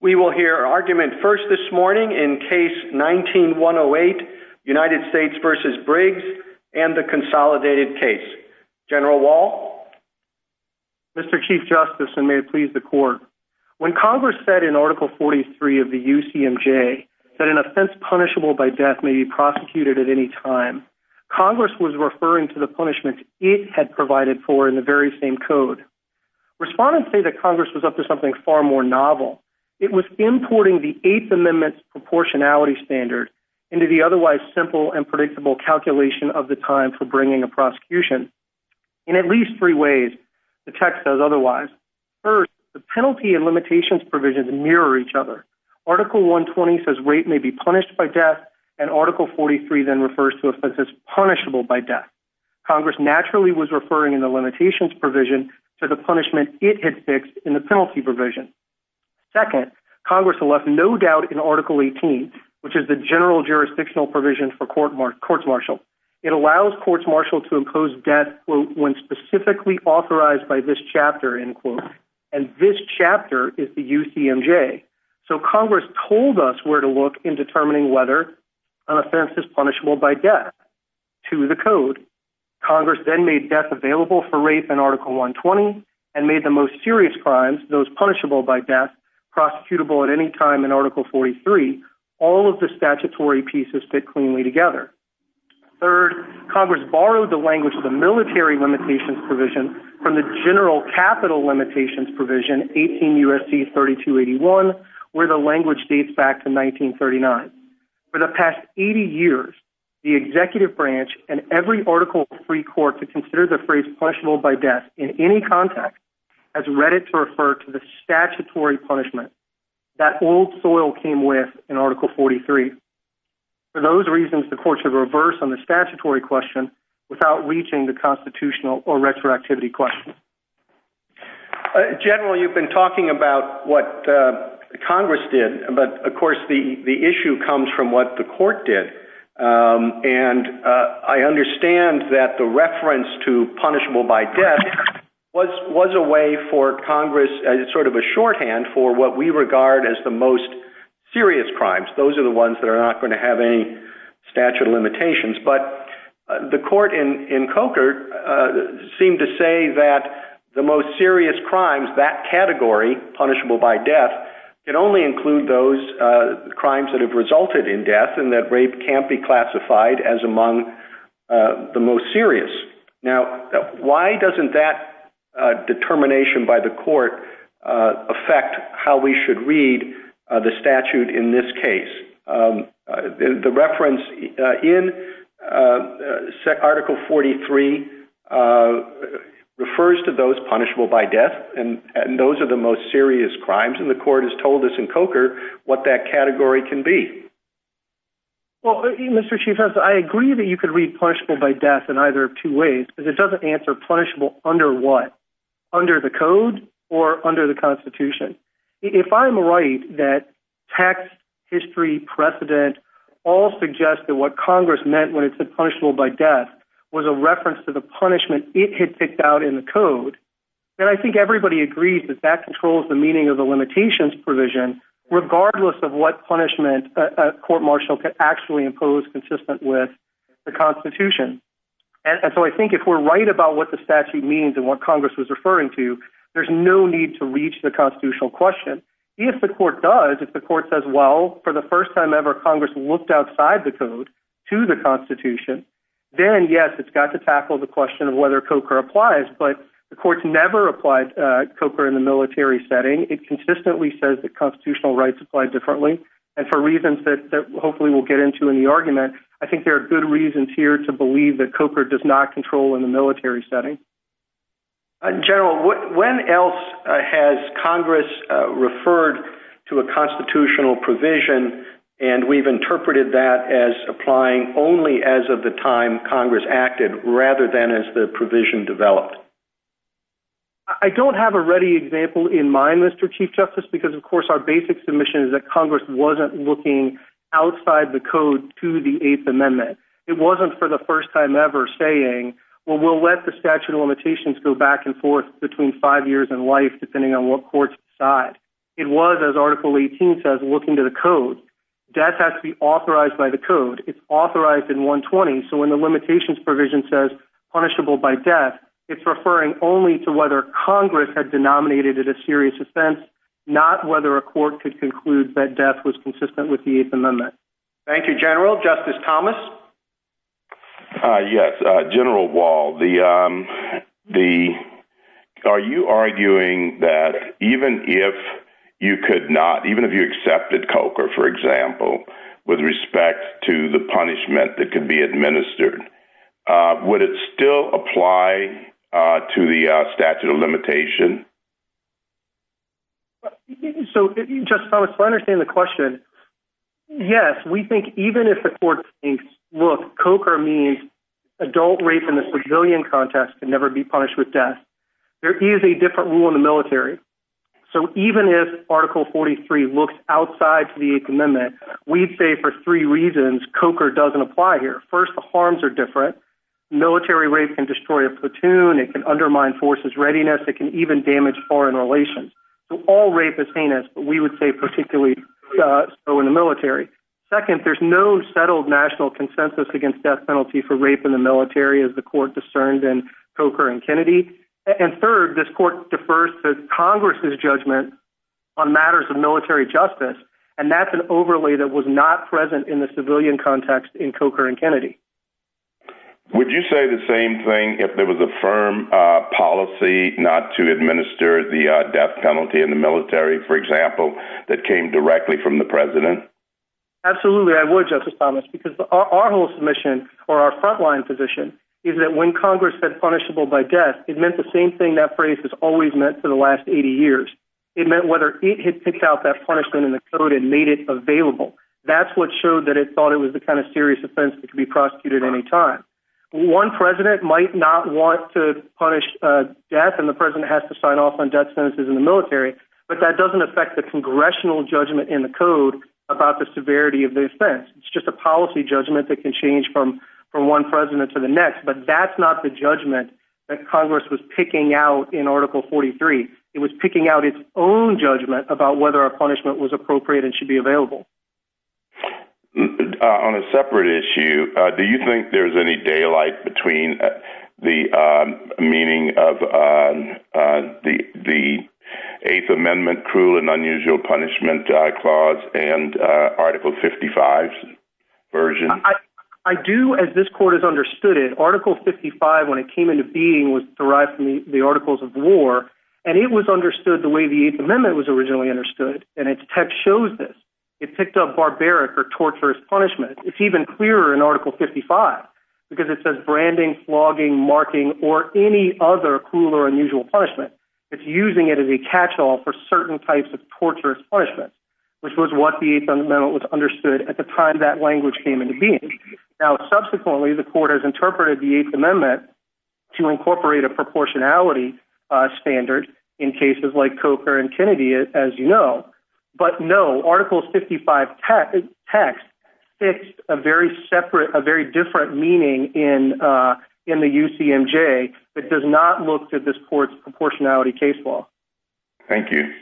We will hear argument first this morning in case 19-108, United States v. Briggs and the consolidated case. General Wall? Mr. Chief Justice, and may it please the Court, when Congress said in Article 43 of the UCMJ that an offense punishable by death may be prosecuted at any time, Congress was referring to the punishment it had provided for in the very same code. Respondents say that Congress was up to something far more novel. It was importing the Eighth Amendment's proportionality standard into the otherwise simple and predictable calculation of the time for bringing a prosecution. In at least three ways, the text says otherwise. First, the penalty and limitations provisions mirror each other. Article 120 says rape may be punished by death, and Article 43 then refers to offenses punishable by death. Congress naturally was referring in the limitations provision to the punishment it had fixed in the penalty provision. Second, Congress left no doubt in Article 18, which is the general jurisdictional provision for courts martial. It allows courts martial to impose death when specifically authorized by this chapter, and this chapter is the UCMJ. So Congress told us where to look in determining whether an offense is punishable by death to the code. Congress then made death available for rape in Article 120 and made the most serious crimes, those punishable by death, prosecutable at any time in Article 43. All of the statutory pieces fit cleanly together. Third, Congress borrowed the language of the military limitations provision from the general capital limitations provision, 18 U.S.C. 3281, where the language dates back to 1939. For the past 80 years, the executive branch and every article of free court to consider the phrase punishable by death in any context has read it to refer to the statutory punishment that old soil came with in Article 43. For those reasons, the courts have reversed on the statutory question without reaching the constitutional or retroactivity question. General, you've been talking about what Congress did, but of course the issue comes from what the court did. And I understand that the reference to punishable by death was a way for Congress, as sort of a shorthand for what we regard as the most serious crimes. Those are the ones that are not going to have any statute of limitations. But the court in Coker seemed to say that the most serious crimes, that category, punishable by death, could only include those crimes that have resulted in death and that rape can't be classified as among the most serious. Now, why doesn't that determination by the court affect how we should read the statute in this case? The reference in Article 43 refers to those punishable by death, and those are the most serious crimes, and the court has told us in Coker what that category can be. Well, Mr. Chief Justice, I agree that you could read punishable by death in either of two ways, because it doesn't answer punishable under what? Under the code or under the Constitution? If I'm right that text, history, precedent, all suggest that what Congress meant when it said punishable by death was a reference to the punishment it had picked out in the code, then I think everybody agrees that that controls the meaning of the limitations provision, regardless of what punishment a court-martial could actually impose consistent with the Constitution. And so I think if we're right about what the statute means and what Congress was referring to, there's no need to reach the constitutional question. If the court does, if the court says, well, for the first time ever, Congress looked outside the code to the Constitution, then yes, it's got to tackle the question of whether Coker applies, but the court's never applied Coker in the military setting. It consistently says that constitutional rights apply differently, and for reasons that hopefully we'll get into in the argument, I think there are good reasons here to believe that Coker does not control in the military setting. General, when else has Congress referred to a constitutional provision, and we've interpreted that as applying only as of the time Congress acted, rather than as the provision developed? I don't have a ready example in mind, Mr. Chief Justice, because of course our basic submission is that Congress wasn't looking outside the code to the Eighth Amendment. It wasn't for the first time ever saying, well, we'll let the statute of limitations go back and forth between five years and life, depending on what courts decide. It was, as Article 18 says, looking to the code. Death has to be authorized by the code. It's authorized in 120, so when the limitations provision says punishable by death, it's referring only to whether Congress had denominated it a serious offense, not whether a court could conclude that death was consistent with the Eighth Amendment. Thank you, General. Justice Thomas? Yes, General Wall, are you arguing that even if you could not, even if you accepted Coker, for example, with respect to the punishment that could be administered, would it still apply to the statute of limitation? So, Justice Thomas, to understand the question, yes, we think even if the court thinks, look, Coker means adult rape in the civilian context can never be punished with death, there is a different rule in the military. So even if Article 43 looks outside to the Eighth Amendment, we'd say for three reasons Coker doesn't apply here. First, the harms are different. Military rape can destroy a platoon, it can undermine forces' readiness, it can even damage foreign relations. So all rape is heinous, but we would say particularly so in the military. Second, there's no settled national consensus against death penalty for rape in the military as the court discerned in Coker and Kennedy. And third, this court defers to Congress' judgment on matters of military justice, and that's an overlay that was not present in the civilian context in Coker and Kennedy. Would you say the same thing if there was a firm policy not to administer the death penalty in the military, for example, that came directly from the president? Absolutely, I would, Justice Thomas, because our whole submission, or our front-line position, is that when Congress said punishable by death, it meant the same thing that phrase has always meant for the last 80 years. It meant whether it had picked out that punishment in the code and made it available. That's what showed that it thought it was the kind of serious offense that could be prosecuted at any time. One president might not want to punish death, and the president has to sign off on death sentences in the military, but that doesn't affect the congressional judgment in the code about the severity of the offense. It's just a policy judgment that can change from one president to the next, but that's not the judgment that Congress was picking out in Article 43. It was picking out its own judgment about whether a punishment was appropriate and should be available. On a separate issue, do you think there's any daylight between the meaning of the Eighth Amendment cruel and unusual punishment clause and Article 55's version? I do, as this Court has understood it. Article 55, when it came into being, was derived from the Articles of War, and it was understood the way the Eighth Amendment was originally understood, and its text shows this. It picked up barbaric or torturous punishment. It's even clearer in Article 55, because it says branding, flogging, marking, or any other cruel or unusual punishment. It's using it as a catch-all for certain types of torturous punishment, which was what the Eighth Amendment understood at the time that language came into being. Now, subsequently, the Court has interpreted the Eighth Amendment to incorporate a proportionality standard in cases like Coker and Kennedy, as you know, but no, Article 55 text fits a very separate, a very different meaning in the UCMJ that does not look to this Court's proportionality case law. Thank you.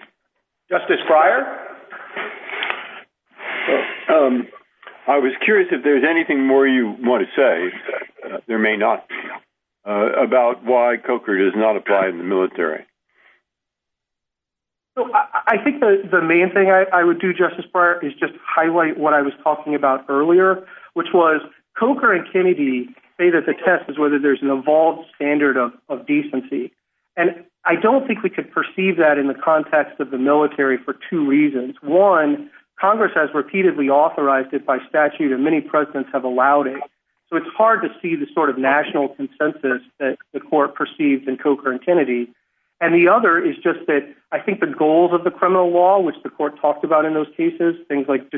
Justice Breyer? I was curious if there's anything more you want to say, there may not be, about why Coker does not apply in the military. I think the main thing I would do, Justice Breyer, is just highlight what I was talking about earlier, which was, Coker and Kennedy say that the test is whether there's an evolved standard of decency, and I don't think we could perceive that in the context of the military for two reasons. One, Congress has repeatedly authorized it by statute, and many presidents have allowed it, so it's hard to see the sort of national consensus that the Court perceived in Coker and Kennedy. And the other is just that I think the goals of the criminal law, which the Court talked about in those cases, things like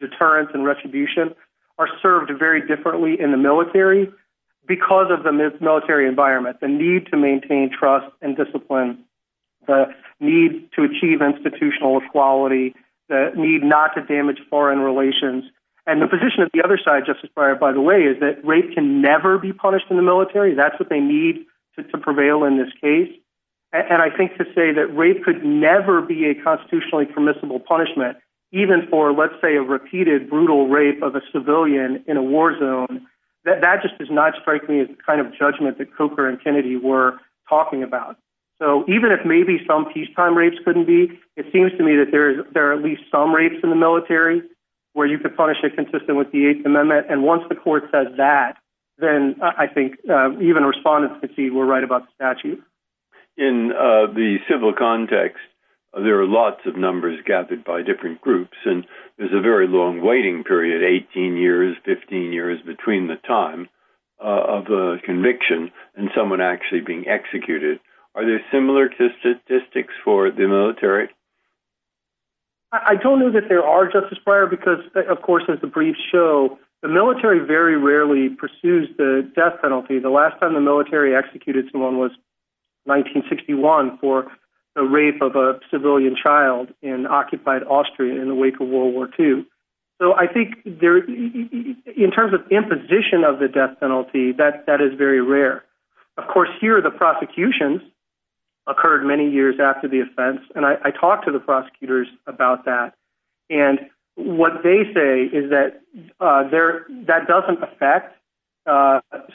deterrence and retribution, are served very differently in the military because of the military environment, the need to maintain trust and discipline, the need to achieve institutional equality, the need not to damage foreign relations. And the position of the other side, Justice Breyer, by the way, is that rape can never be punished in the military. That's what they need to prevail in this case. And I think to say that rape could never be a constitutionally permissible punishment, even for, let's say, a repeated brutal rape of a civilian in a war zone, that just does not strike me as the kind of judgment that Coker and Kennedy were talking about. So even if maybe some peacetime rapes couldn't be, it seems to me that there are at least some rapes in the military where you could punish it consistent with the Eighth Amendment. And once the Court says that, then I think even respondents could see we're right about the statute. In the civil context, there are lots of numbers gathered by different groups, and there's a very long waiting period, 18 years, 15 years between the time of the conviction and someone actually being executed. Are there similar statistics for the military? I don't know that there are, Justice Breyer, because, of course, as the briefs show, the military very rarely pursues the death penalty. The last time the military executed someone was 1961 for the rape of a civilian child in occupied Austria in the wake of World War II. So I think in terms of imposition of the death penalty, that is very rare. Of course, here the prosecutions occurred many years after the offense, and I talked to the prosecutors about that. And what they say is that that doesn't affect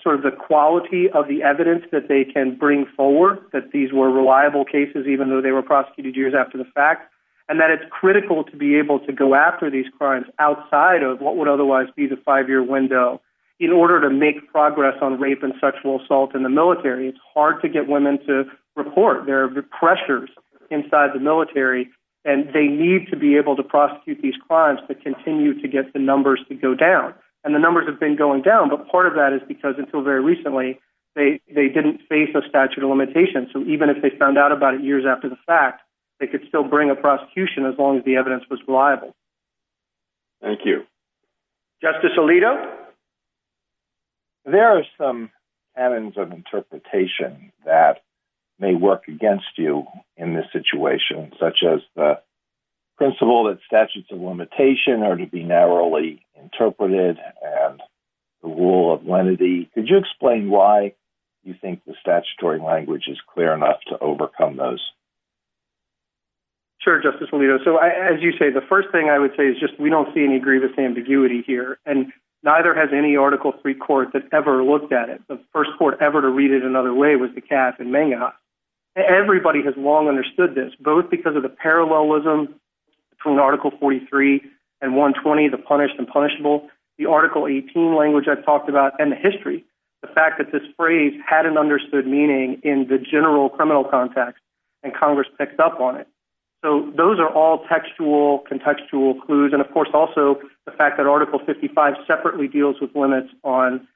sort of the quality of the evidence that they can bring forward, that these were reliable cases even though they were prosecuted years after the fact, and that it's critical to be able to go after these crimes outside of what would otherwise be the five-year window. In order to make progress on rape and sexual assault in the military, it's hard to get women to report. There are pressures inside the military, and they need to be able to prosecute these crimes to continue to get the numbers to go down. And the numbers have been going down, but part of that is because until very recently they didn't face a statute of limitations. So even if they found out about it years after the fact, they could still bring a prosecution as long as the evidence was reliable. Thank you. Justice Alito? There are some patterns of interpretation that may work against you in this situation, such as the principle that statutes of limitation are to be narrowly interpreted and the rule of lenity. Could you explain why you think the statutory language is clear enough to overcome those? Sure, Justice Alito. So as you say, the first thing I would say is just we don't see any grievous ambiguity here, and neither has any Article III court that ever looked at it. The first court ever to read it another way was the cast in Mangas. Everybody has long understood this, both because of the parallelism between Article 43 and 120, the punished and punishable, the Article 18 language I've talked about, and the history. The fact that this phrase had an understood meaning in the general criminal context, and Congress picked up on it. So those are all textual, contextual clues, and of course also the fact that Article 55 separately deals with limits on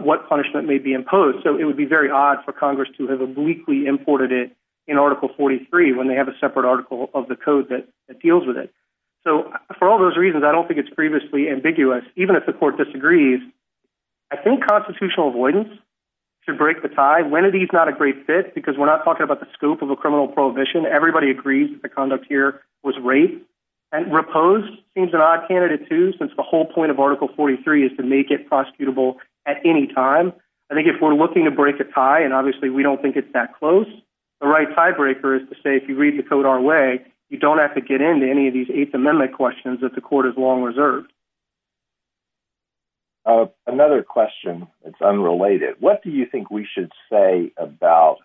what punishment may be imposed. So it would be very odd for Congress to have obliquely imported it in Article 43 when they have a separate article of the code that deals with it. So for all those reasons, I don't think it's previously ambiguous, even if the court disagrees. I think constitutional avoidance should break the tie. When it is not a great fit, because we're not talking about the scope of a criminal prohibition, everybody agrees that the conduct here was rape. And repose seems an odd candidate too, since the whole point of Article 43 is to make it prosecutable at any time. I think if we're looking to break a tie, and obviously we don't think it's that close, the right tiebreaker is to say if you read the code our way, you don't have to get into any of these Eighth Amendment questions that the court has long reserved. Another question, it's unrelated. What do you think we should say about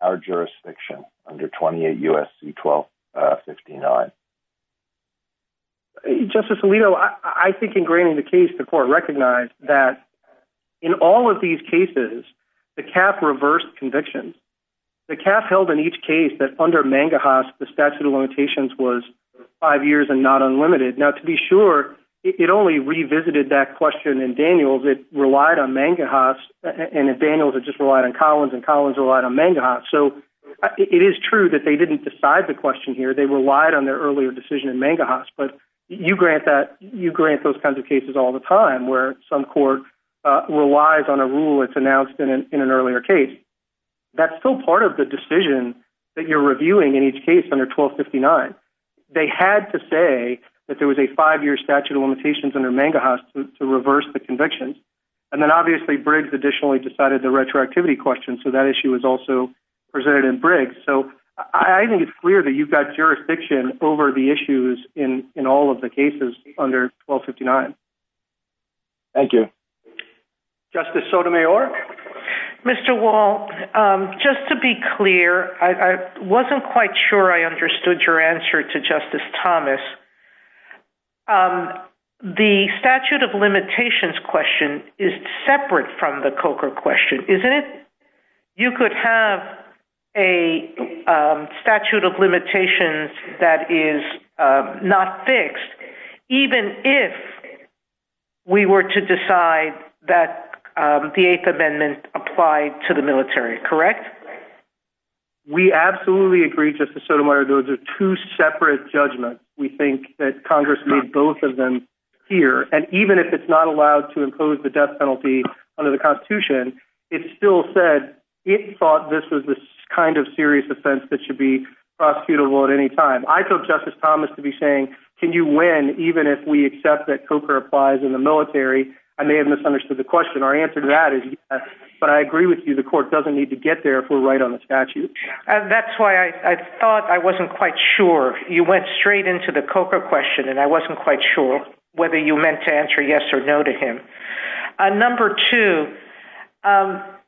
our jurisdiction under 28 U.S.C. 1259? Justice Alito, I think in graining the case, the court recognized that in all of these cases, the CAF reversed convictions. The CAF held in each case that under Mangahas, the five years are not unlimited. Now, to be sure, it only revisited that question in Daniels. It relied on Mangahas. And in Daniels, it just relied on Collins. And Collins relied on Mangahas. So it is true that they didn't decide the question here. They relied on their earlier decision in Mangahas. But you grant those kinds of cases all the time, where some court relies on a rule that's announced in an earlier case. That's still part of the case. They had to say that there was a five-year statute of limitations under Mangahas to reverse the convictions. And then, obviously, Briggs additionally decided the retroactivity question. So that issue was also presented in Briggs. So I think it's clear that you've got jurisdiction over the issues in all of the cases under 1259. Thank you. Justice Sotomayor? Mr. Wall, just to be clear, I wasn't quite sure I understood your answer to Justice Thomas. The statute of limitations question is separate from the COCA question, isn't it? You could have a statute of limitations that is not fixed, even if we were to decide that the Eighth Amendment applied to the military, correct? We absolutely agree, Justice Sotomayor. Those are two separate judgments. We think that Congress made both of them clear. And even if it's not allowed to impose the death penalty under the Constitution, it still said it thought this was this kind of serious offense that should be prosecutable at any time. I told Justice Thomas to be saying, can you win even if we accept that COCA applies in the military? I may have misunderstood the question. Our answer to that is yes. But I agree with you. The court doesn't need to get there if we're right on the statute. That's why I thought I wasn't quite sure. You went straight into the COCA question, and I wasn't quite sure whether you meant to answer yes or no to him. Number two,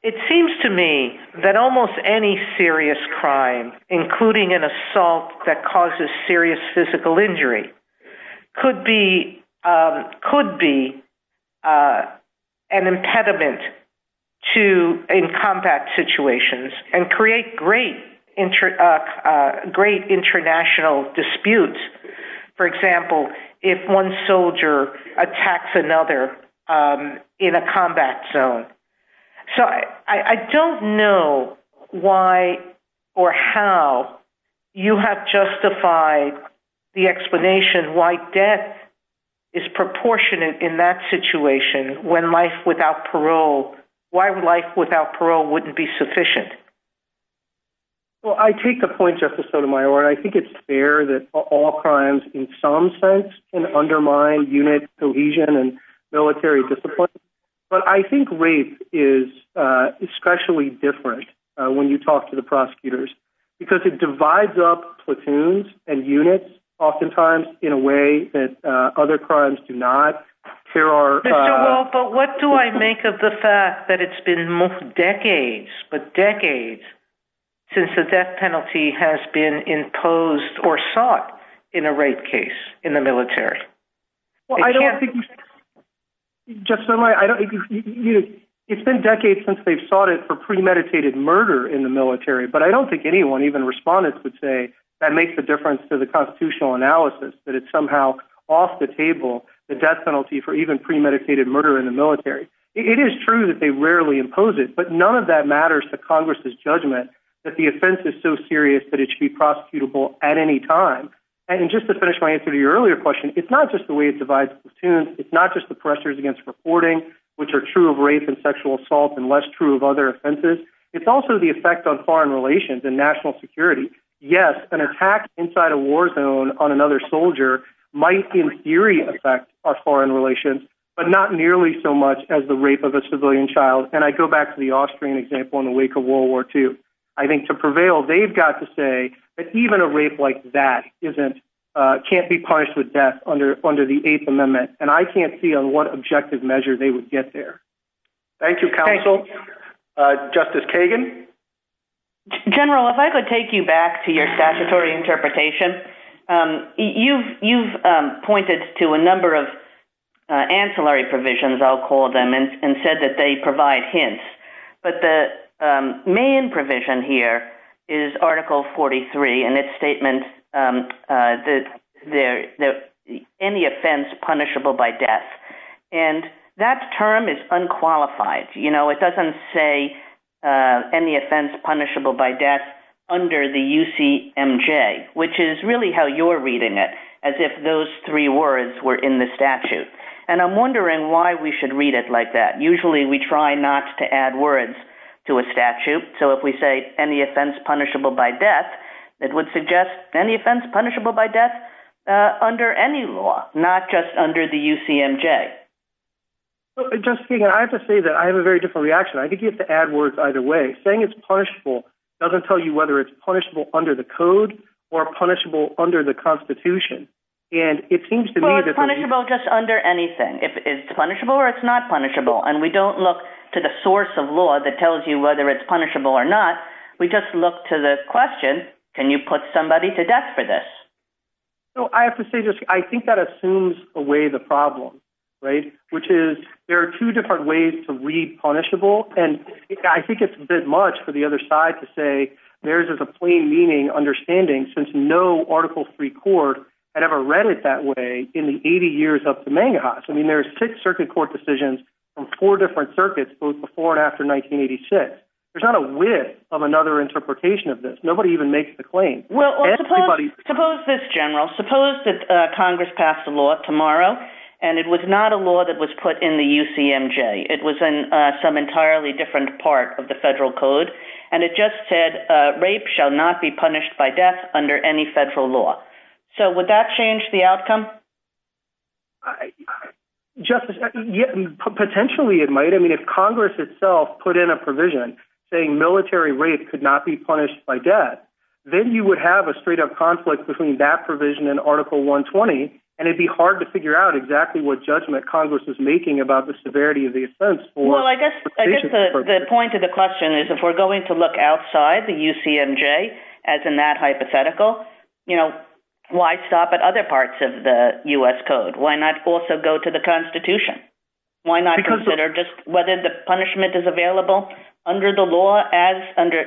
it seems to me that almost any serious crime, including an assault that causes serious physical injury, could be an impediment in combat situations and create great international disputes. For example, if one soldier attacks another in a combat zone. So, I don't know why or how you have justified the explanation why death is proportionate in that situation when life without parole, why life without parole wouldn't be sufficient. Well, I take the point, Justice Sotomayor, and I think it's fair that all crimes, in some sense, can undermine unit cohesion and military discipline. But I think rape is especially different when you talk to the prosecutors, because it divides up platoons and units, oftentimes in a way that other crimes do not. But what do I make of the fact that it's been decades, but decades, since a death penalty has been imposed or sought in a rape case in the military? It's been decades since they've sought it for premeditated murder in the military, but I don't think anyone, even respondents, would say that makes a difference to the constitutional analysis, that it's somehow off the table, the death penalty for even premeditated murder in the military. It is true that they rarely impose it, but none of that matters to Congress' judgment that the offense is so serious that it should be prosecutable at any time. And just to finish my answer to your earlier question, it's not just the way it divides platoons. It's not just the pressures against reporting, which are true of rape and sexual assault and less true of other offenses. It's also the effect on foreign relations and national security. Yes, an attack inside a war zone on another soldier might, in theory, affect our foreign relations, but not nearly so much as the rape of a civilian child. And I go back to the Austrian example in the wake of World War II. I think to prevail, they've got to say that even a rape like that can't be punished with death under the Eighth Amendment, and I can't see on what objective measure they would get there. Thank you, counsel. Justice Kagan? General, if I could take you back to your statutory interpretation. You've pointed to a number of ancillary provisions, I'll call them, and said that they provide hints. But the main provision here is Article 43 and its statement that any offense punishable by death. And that term is unqualified. It doesn't say any offense punishable by death under the UCMJ, which is really how you're reading it, as if those three words were in the statute. And I'm wondering why we should read it like that. Usually, we try not to add words to a statute. So if we say any offense punishable by death, it would suggest any offense punishable by death under the UCMJ. Justice Kagan, I have to say that I have a very different reaction. I think you have to add words either way. Saying it's punishable doesn't tell you whether it's punishable under the code or punishable under the Constitution. And it seems to me that... Well, it's punishable just under anything. If it's punishable or it's not punishable. And we don't look to the source of law that tells you whether it's punishable or not. We just look to the question, can you put somebody to death for this? Well, I have to say just, I think that assumes away the problem, right? Which is there are two different ways to read punishable. And I think it's a bit much for the other side to say there's a plain meaning understanding since no Article III court had ever read it that way in the 80 years up to Mangahas. I mean, there are six circuit court decisions from four different circuits, both before and after 1986. There's not a width of another interpretation of this. Nobody even makes the claim. Well, suppose this, General. Suppose that Congress passed a law tomorrow and it was not a law that was put in the UCMJ. It was in some entirely different part of the federal code. And it just said, rape shall not be punished by death under any federal law. So would that change the outcome? Justice, potentially it might. I mean, if Congress itself put in a provision saying military rape could not be punished by death, then you would have a straight up conflict between that provision and Article 120. And it'd be hard to figure out exactly what judgment Congress is making about the severity of the offense. Well, I guess the point of the question is if we're going to look outside the UCMJ, as in that hypothetical, you know, why stop at other parts of the U.S. code? Why not also go to the Constitution? Why not consider just whether the punishment is available under the law as under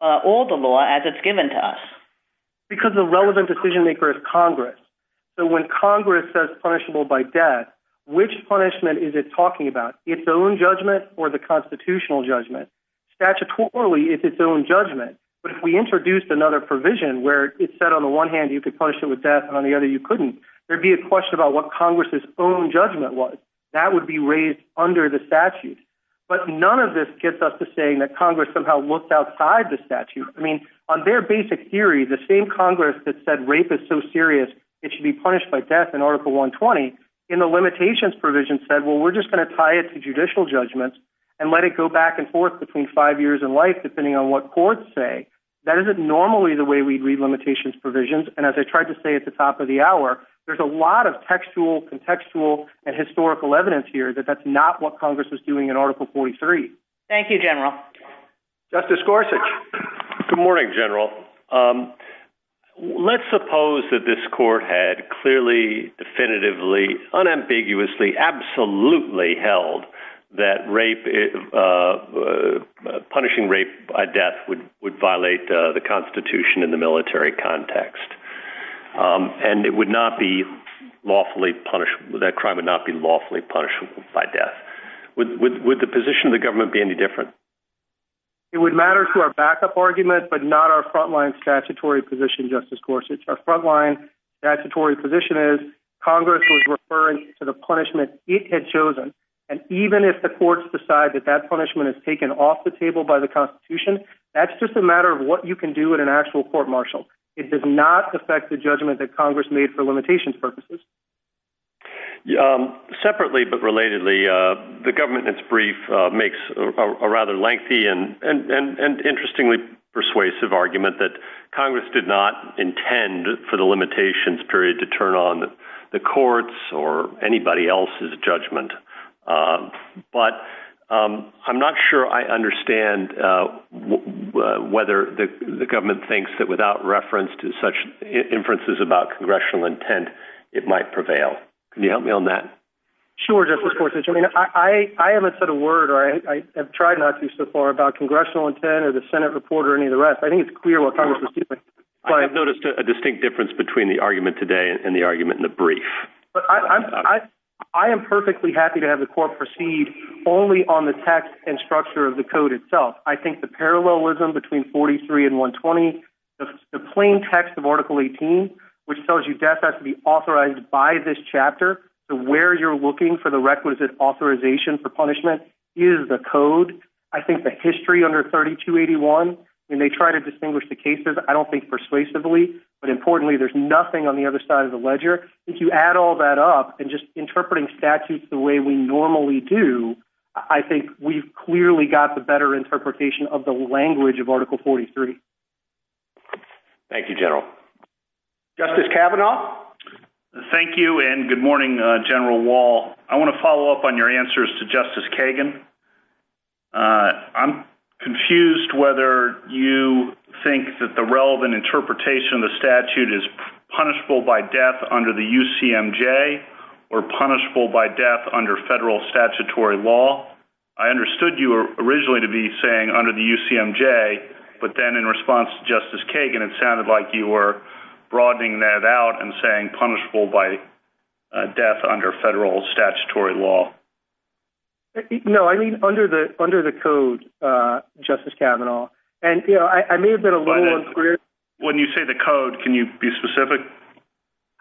all the law as it's given to us? Because the relevant decision maker is Congress. So when Congress says punishable by death, which punishment is it talking about? Its own judgment or the constitutional judgment? Statutorily, it's its own judgment. But if we introduced another provision where it said on the one hand you could punish it with death and on the other you couldn't, there'd be a question about what Congress's own judgment was. That would be raised under the statute. But none of this gets us to saying that Congress somehow looked outside the statute. I mean, on their basic theory, the same Congress that said rape is so serious it should be punished by death in Article 120, in the limitations provision said, well, we're just going to tie it to judicial judgment and let it go back and forth between five years and life depending on what courts say. That isn't normally the way we'd read limitations provisions. And as I tried to say at the top of the hour, there's a lot of textual, contextual, and Thank you, General. Justice Gorsuch. Good morning, General. Let's suppose that this court had clearly, definitively, unambiguously, absolutely held that punishing rape by death would violate the Constitution in the military context. And it would not be lawfully punished, that crime would not be lawfully punished by death. Would the position of the government be any different? It would matter to our backup argument, but not our frontline statutory position, Justice Gorsuch. Our frontline statutory position is Congress was referring to the punishment it had chosen. And even if the courts decide that that punishment is taken off the table by the Constitution, that's just a matter of what you can do at an actual court-martial. It does not affect the judgment that Congress made for limitations purposes. Separately, but relatedly, the government in its brief makes a rather lengthy and interestingly persuasive argument that Congress did not intend for the limitations period to turn on the courts or anybody else's judgment. But I'm not sure I understand whether the government thinks that without reference to such inferences about congressional intent, it might prevail. Can you help me on that? Sure, Justice Gorsuch. I haven't said a word, or I have tried not to so far, about congressional intent or the Senate report or any of the rest. I think it's clear what Congress is doing. I have noticed a distinct difference between the argument today and the argument in the brief. I am perfectly happy to have the court proceed only on the text and structure of the code itself. I think the parallelism between 43 and 120, the plain text of Article 18, which tells you death has to be authorized by this chapter, to where you're looking for the requisite authorization for punishment, is the code. I think the history under 3281, when they try to distinguish the cases, I don't think persuasively, but importantly, there's nothing on the other side of the ledger. If you add all that up and just interpreting statutes the way we normally do, I think we've clearly got the better interpretation of the language of Article 43. Thank you, General. Justice Kavanaugh? Thank you, and good morning, General Wall. I want to follow up on your answers to Justice Kagan. I'm confused whether you think that the relevant interpretation of the statute is punishable by death under the UCMJ or punishable by death under federal statutory law. I understood you originally to be saying under the UCMJ, but then in response to Justice Kagan, it sounded like you were broadening that out and saying punishable by death under federal statutory law. No, I mean under the code, Justice Kavanaugh, and I may have been a little unclear. When you say the code, can you be specific?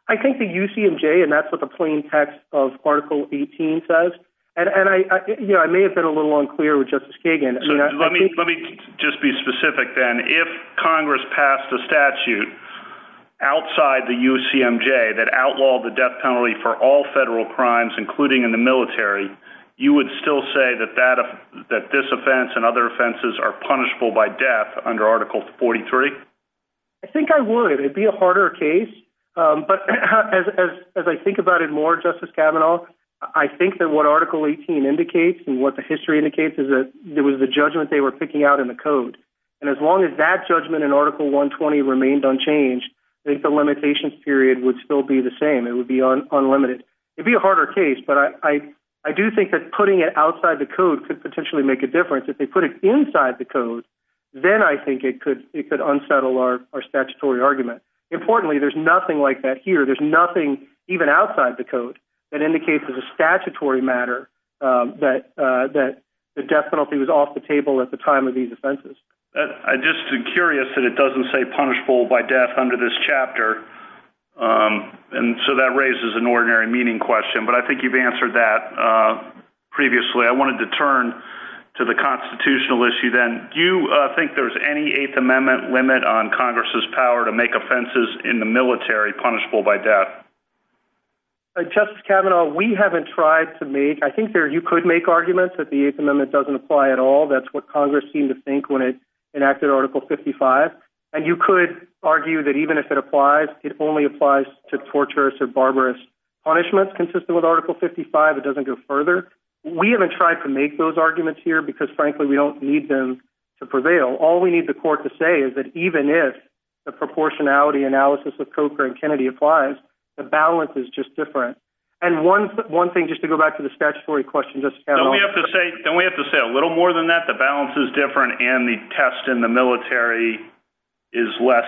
I think the UCMJ, and that's what the plain text of Article 18 says, and I may have been a little unclear with Justice Kagan. Let me just be specific then. If Congress passed a statute outside the UCMJ that outlawed the death penalty for all federal crimes, including in the military, you would still say that this offense and other offenses are punishable by death under Article 43? I think I would. It would be a harder case, but as I think about it more, Justice Kavanaugh, I think that what Article 18 indicates and what the history indicates is that there was a judgment they were picking out in the code, and as long as that judgment in Article 120 remained unchanged, I think the limitations period would still be the same. It would be unlimited. It would be a harder case, but I do think that putting it outside the code could potentially make a difference. If they put it inside the code, then I think it could unsettle our statutory argument. Importantly, there's nothing like that here. There's nothing even outside the code that indicates as a statutory matter that the death penalty was off the table at the time of these offenses. I'm just curious that it doesn't say punishable by death under this chapter, and so that raises an ordinary meaning question, but I think you've answered that previously. I wanted to turn to the constitutional issue then. Do you think there's any Eighth Amendment limit on Congress's power to make offenses in the military punishable by death? Justice Kavanaugh, we haven't tried to make – I think you could make arguments that the Eighth Amendment doesn't apply at all. That's what Congress seemed to think when it enacted Article 55, and you could argue that even if it applies, it only applies to torturous or barbarous punishments consistent with Article 55. It doesn't go further. We haven't tried to make those arguments here because, frankly, we don't need them to prevail. All we need the court to say is that even if the proportionality analysis of Coker and Kennedy applies, the balance is just different, and one thing, just to say a little more than that, the balance is different and the test in the military is less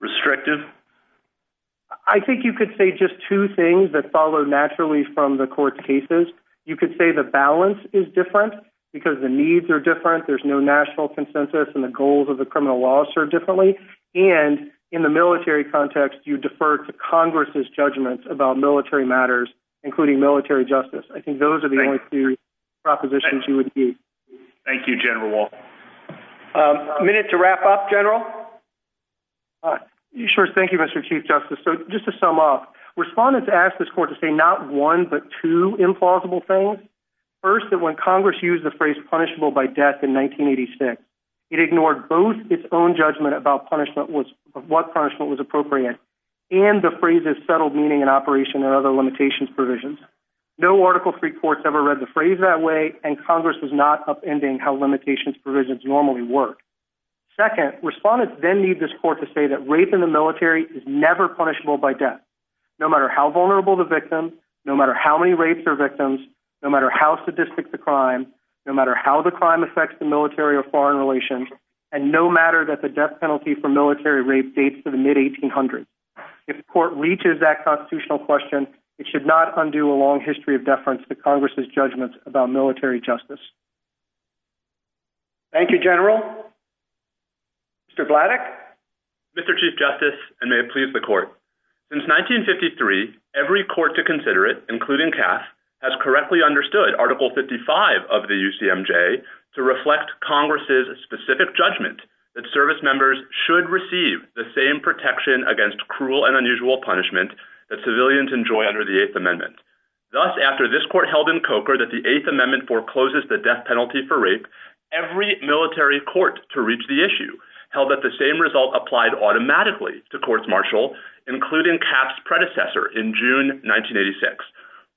restrictive? I think you could say just two things that follow naturally from the court's cases. You could say the balance is different because the needs are different, there's no national consensus, and the goals of the criminal law are served differently, and in the military context, you defer to Congress's judgments about military matters, including military justice. I think those are the only two propositions you would need. Thank you, General Wall. A minute to wrap up, General? Sure. Thank you, Mr. Chief Justice. Just to sum up, respondents asked this court to say not one but two implausible things. First, that when Congress used the phrase punishable by death in 1986, it ignored both its own judgment about what punishment was appropriate and the phrase's settled meaning in operation and other limitations provisions. No Article III court's ever read the phrase that way, and Congress is not upending how limitations provisions normally work. Second, respondents then need this court to say that rape in the military is never punishable by death, no matter how vulnerable the victim, no matter how many rapes are victims, no matter how sadistic the crime, no matter how the crime affects the military or foreign relations, and no matter that the death penalty for military rape dates to the mid-1800s. If the court reaches that constitutional question, it should not undo a long history of deference to Congress's judgments about military justice. Thank you, General. Mr. Bladdock? Mr. Chief Justice, and may it please the court, since 1953, every court to consider it, including CAF, has correctly understood Article 55 of the UCMJ to reflect Congress's specific judgment that service members should receive the same protection against cruel and unusual punishment that civilians enjoy under the Eighth Amendment. Thus, after this court held in Coker that the Eighth Amendment forecloses the death penalty for rape, every military court to reach the issue held that the same result applied automatically to courts martial, including CAF's predecessor in June 1986.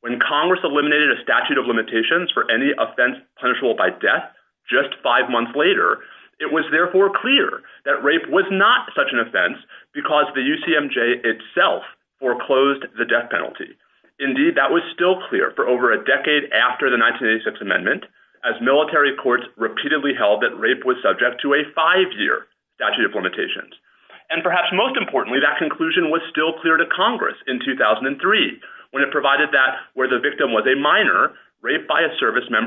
When Congress eliminated a statute of limitations for any offense punishable by death just five months later, it was therefore clear that rape was not such an offense because the UCMJ itself foreclosed the death penalty. Indeed, that was still clear for over a decade after the 1986 Amendment, as military courts repeatedly held that rape was subject to a five-year statute of limitations. And perhaps most importantly, that conclusion was still clear to Congress in 2003, when it provided that where the victim was a minor, rape by a minor was not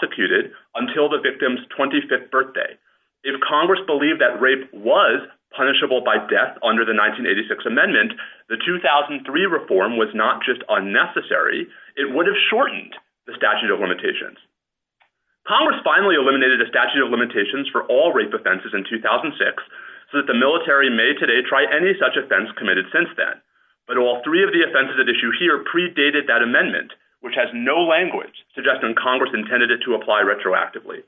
permitted until the victim's 25th birthday. If Congress believed that rape was punishable by death under the 1986 Amendment, the 2003 reform was not just unnecessary, it would have shortened the statute of limitations. Congress finally eliminated a statute of limitations for all rape offenses in 2006, so that the military may today try any such offense committed since then. But all three of the offenses at issue here predated that amendment, which has no language suggesting Congress intended it to apply retroactively.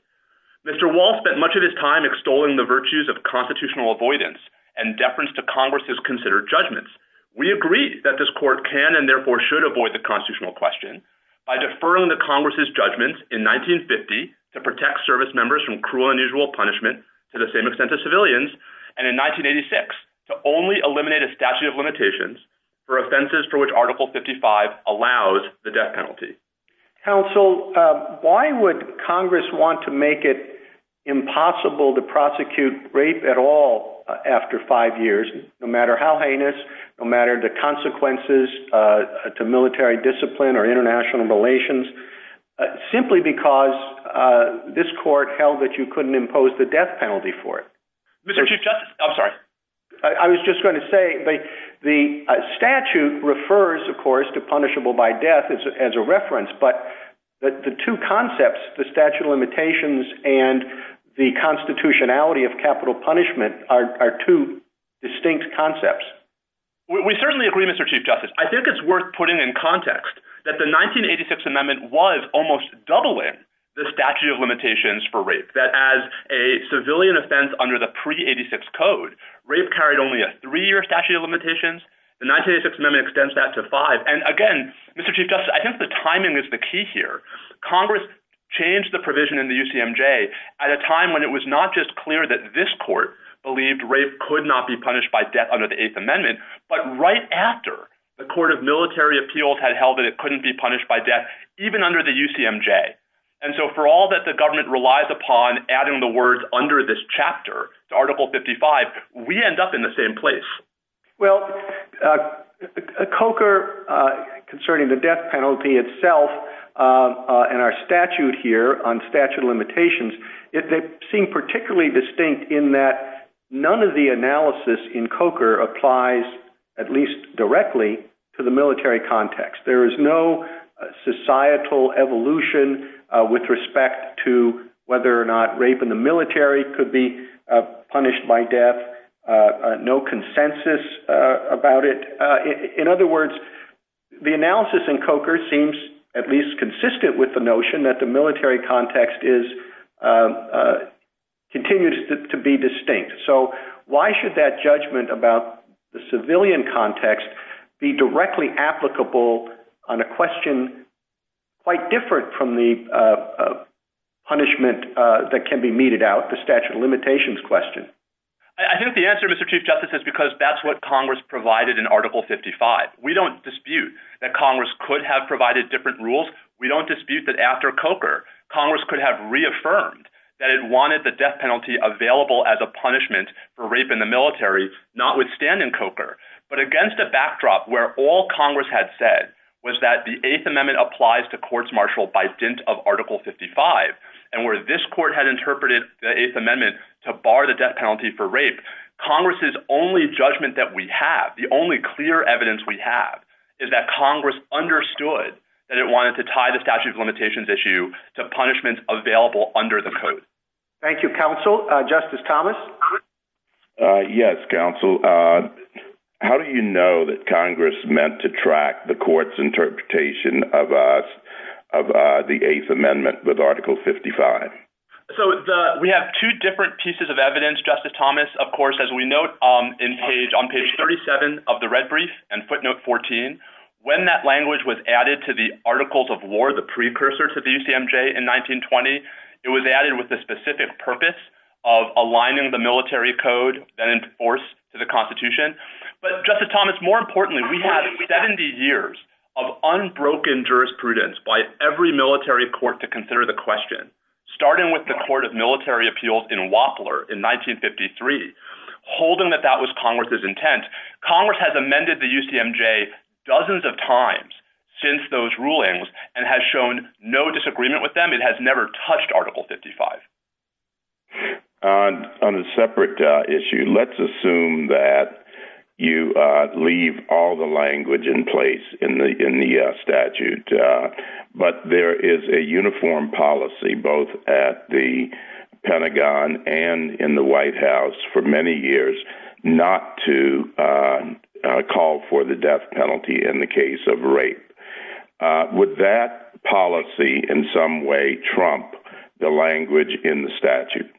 Mr. Wall spent much of his time extolling the virtues of constitutional avoidance and deference to Congress's considered judgments. We agree that this court can and therefore should avoid the constitutional question by deferring to Congress's judgment in 1950 to protect service members from cruel and unusual punishment to the same extent as civilians, and in 1986 to only Mr. Counsel, why would Congress want to make it impossible to prosecute rape at all after five years, no matter how heinous, no matter the consequences to military discipline or international relations, simply because this court held that you couldn't impose the death penalty for it? Mr. Chief Justice, I'm sorry. I was just going to say the statute refers, of course, to punishable by death as a reference, but the two concepts, the statute of limitations and the constitutionality of capital punishment are two distinct concepts. We certainly agree, Mr. Chief Justice. I think it's worth putting in context that the 1986 amendment was almost doubling the statute of limitations for rape, that as a civilian offense under the pre-86 code, rape carried only a three-year statute of limitations. The 1986 amendment extends that to five, and again Mr. Chief Justice, I think the timing is the key here. Congress changed the provision in the UCMJ at a time when it was not just clear that this court believed rape could not be punished by death under the Eighth Amendment, but right after the Court of Military Appeals had held that it couldn't be punished by death even under the UCMJ. And so for all that the government relies upon, adding the words under this chapter to Article 55, we end up in the same place. Well, COCR concerning the death penalty itself and our statute here on statute of limitations, they seem particularly distinct in that none of the analysis in COCR applies at least directly to the military context. There is no societal evolution with respect to whether or not rape in the military could be punished by death, no consensus about it. In other words, the analysis in COCR seems at least consistent with the notion that the military context continues to be distinct. So why should that judgment about the civilian context be directly applicable on a question quite different from the punishment that can be meted out, the statute of limitations question? I think the answer, Mr. Chief Justice, is because that's what Congress provided in Article 55. We don't dispute that Congress could have provided different rules. We don't dispute that after COCR, Congress could have reaffirmed that it wanted the death penalty available as a punishment for rape in the military, notwithstanding COCR. But against a backdrop where all Congress had said was that the Eighth Amendment applies to bar the death penalty for rape, Congress's only judgment that we have, the only clear evidence we have, is that Congress understood that it wanted to tie the statute of limitations issue to punishments available under the code. Thank you, Counsel. Justice Thomas? Yes, Counsel. How do you know that Congress meant to track the court's actions? We have two different pieces of evidence, Justice Thomas. Of course, as we note on page 37 of the red brief and footnote 14, when that language was added to the Articles of War, the precursor to the UCMJ in 1920, it was added with the specific purpose of aligning the military code that enforced the Constitution. But Justice Thomas, more importantly, we have 70 years of evidence that the UCMJ did not enforce the rules in Wapler in 1953, holding that that was Congress's intent. Congress has amended the UCMJ dozens of times since those rulings and has shown no disagreement with them. It has never touched Article 55. On a separate issue, let's assume that you leave all the language in place in the statute, but there is a uniform policy both at the Pentagon and in the White House for many years not to call for the death penalty in the case of rape. Would that policy in some way trump the language in the statute?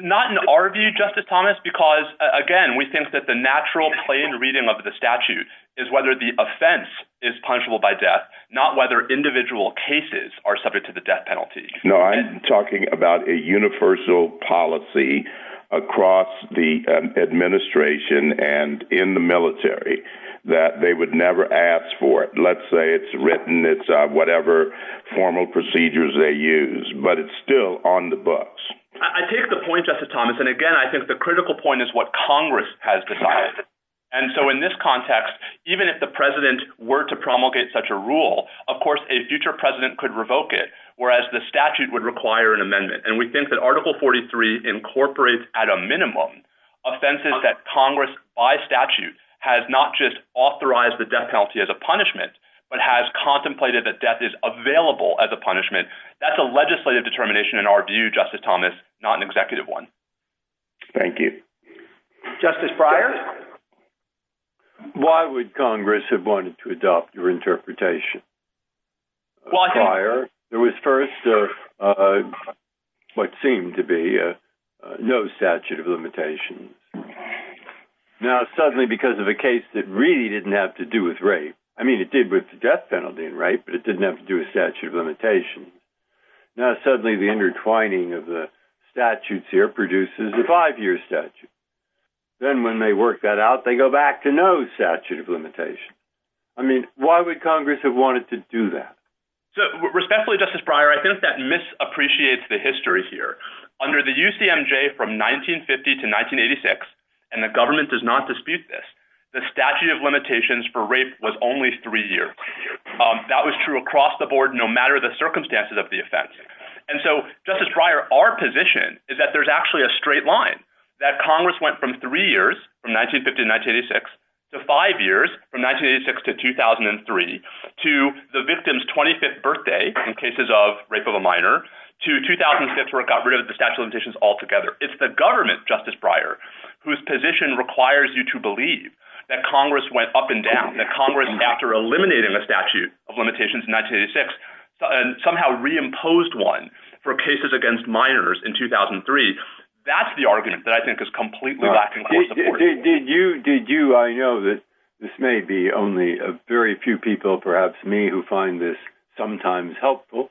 Not in our view, Justice Thomas, because again, we think that the natural plain reading of the statute is whether the offense is punishable by death, not whether individual cases are subject to the death penalty. No, I'm talking about a universal policy across the administration and in the military that they would never ask for it. Let's say it's the death penalty. It's not punishable by death, but it's still on the books. I take the point, Justice Thomas. And again, I think the critical point is what Congress has decided. And so in this context, even if the president were to promulgate such a rule, of course, a future president could revoke it, whereas the statute would require an amendment. And we think that Article 43 incorporates at a minimum offenses that Congress by statute has not just authorized the death penalty as a punishment, but has contemplated that death is available as a punishment. That's a legislative determination in our view, Justice Thomas, not an executive one. Thank you. Justice Pryor? Why would Congress have wanted to adopt your interpretation? Prior, there was first what seemed to be no statute of limitations. Now, suddenly, because of a case that really didn't have to do with rape, I mean, it did with the death penalty and rape, but it didn't have to do with statute of limitations. Now, suddenly, the intertwining of the statutes here produces a five-year statute. Then when they work that out, they go back to no statute of limitation. I mean, why would Congress have wanted to do that? So respectfully, Justice Pryor, I think that misappreciates the history here. Under the UCMJ from 1950 to 1986, and the government does not dispute this, the statute of limitations for rape was only three years. That was true across the board, no matter the statute of limitations. Congress went from three years, from 1950 to 1986, to five years, from 1986 to 2003, to the victim's 25th birthday in cases of rape of a minor, to 2006 where it got rid of the statute of limitations altogether. It's the government, Justice Pryor, whose position requires you to believe that Congress went up and down, that Congress, after eliminating a statute of limitations in 1986, somehow reimposed one for cases against minors in 2003. That's the argument that I think is completely lacking. I know that this may be only a very few people, perhaps me, who find this sometimes helpful,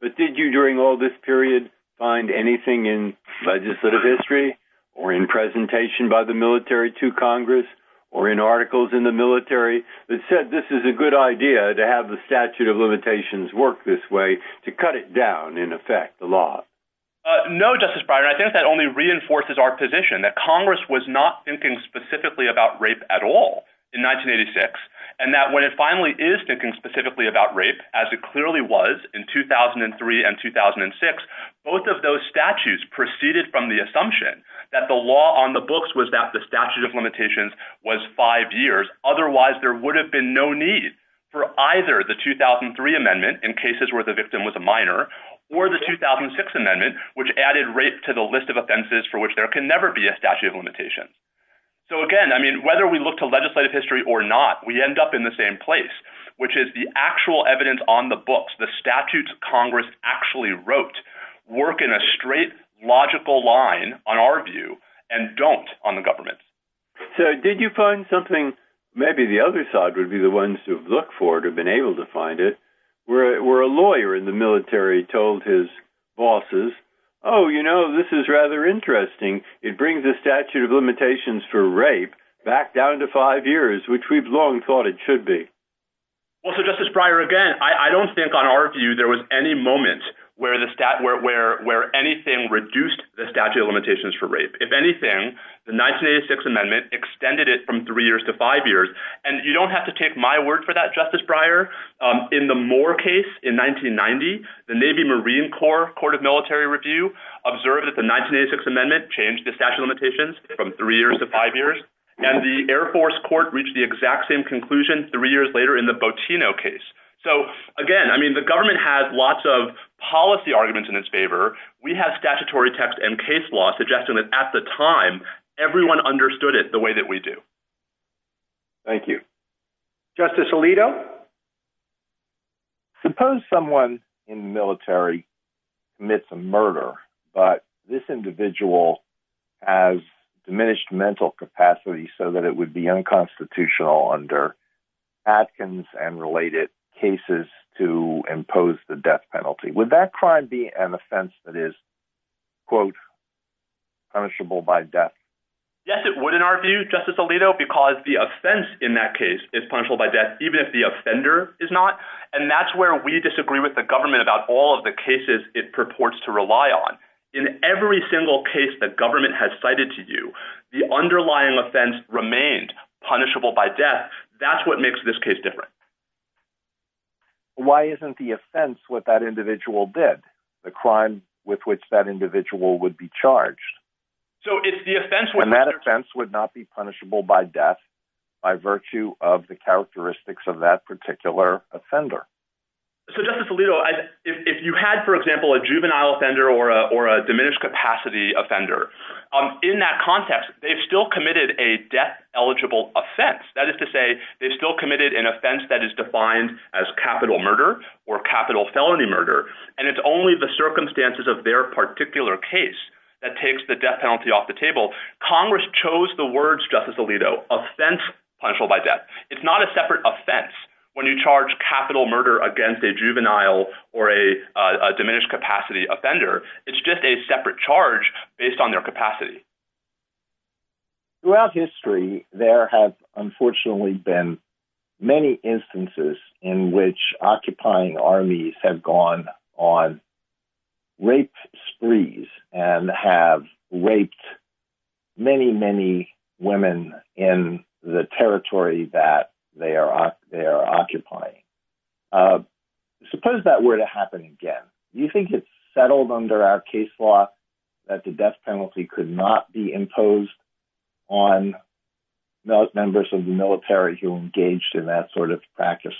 but did you, during all this period, find anything in legislative history, or in presentation by the military to Congress, or in articles in the military that said this is a good idea to have the statute of limitations work this way, to cut it down, in effect, the law? No, Justice Pryor. I think that only reinforces our position that Congress was not thinking specifically about rape at all in 1986, and that when it finally is thinking specifically about rape, as it clearly was in 2003 and 2006, both of those statutes proceeded from the assumption that the law on the books was that the statute of limitations was five years. Otherwise, there would have been no need for either the 2003 amendment, in cases where the victim was a minor, or the 2006 amendment, which added rape to the list of offenses for which there can never be a statute of limitation. So again, I mean, whether we look to legislative history or not, we end up in the same place, which is the actual evidence on the books, the statutes Congress actually wrote, work in a straight, logical line, on our view, and don't on the government. So did you find something, maybe the other side would be the ones who have looked for it, or been able to find it, where a lawyer in the military told his bosses, oh, you know, this is rather interesting. It brings the statute of limitations for rape back down to five years, which we've long thought it should be. Well, so Justice Breyer, again, I don't think on our view there was any moment where anything reduced the statute of limitations for rape. If anything, the 1986 amendment extended it from three years to five years. And you don't have to take my word for that, Justice Breyer. In the Moore case, in 1990, the Navy Marine Corps Court of Military Review observed that the 1986 amendment changed the statute of limitations from three years to five years. And the Air Force Court reached the exact same conclusion, three years later, in the Bottino case. So again, I mean, the government has lots of policy arguments in its favor. We have statutory text and case law suggesting that at the time, everyone understood it the way that we do. Thank you. Justice Alito? Suppose someone in the military commits a murder, but this individual has diminished mental capacity so that it would be unconstitutional under Atkins and related cases to impose the death penalty. Would that crime be an offense that is, quote, punishable by death? Yes, it would, in our view, Justice Alito, because the offense in that case is punishable by death, even if the offender is not. And that's where we disagree with the government about all of the cases it purports to rely on. In every single case that government has cited to you, the underlying offense remained punishable by death. That's what makes this case different. Why isn't the offense what that individual did? The crime with which that individual would be charged? So it's the offense... And that offense would not be punishable by death by virtue of the characteristics of that particular offender. So Justice Alito, if you had, for example, a juvenile offender or a diminished capacity offender, in that context, they've still committed a death-eligible offense. That is to say, they've still committed an offense that is defined as capital murder or capital felony murder, and it's only the circumstances of their particular case that takes the death penalty off the table. Congress chose the words, Justice Alito, offense punishable by death. It's not a separate offense when you charge capital murder against a juvenile or a diminished capacity offender. It's just a separate charge based on their capacity. Throughout history, there have, unfortunately, been many instances in which occupying armies have gone on rape sprees and have raped many, many women in the territory that they are occupying. Suppose that were to happen again. Do you think it's settled under our case law that the death penalty could not be imposed on members of the military who engaged in that sort of practice?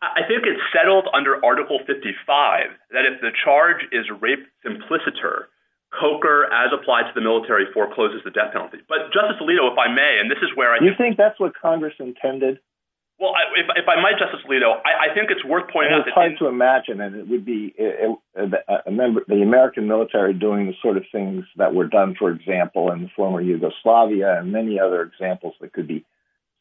I think it's settled under Article 55 that if the charge is rape implicitor, COCR, as applied to the military, forecloses the death penalty. But Justice Alito, if I may, and this is where I... You think that's what Congress intended? Well, if I might, Justice Alito, I think it's worth pointing out that... It's hard to imagine, and it would be the American military doing the sort of things that were done, for example, in former Yugoslavia and many other examples that could be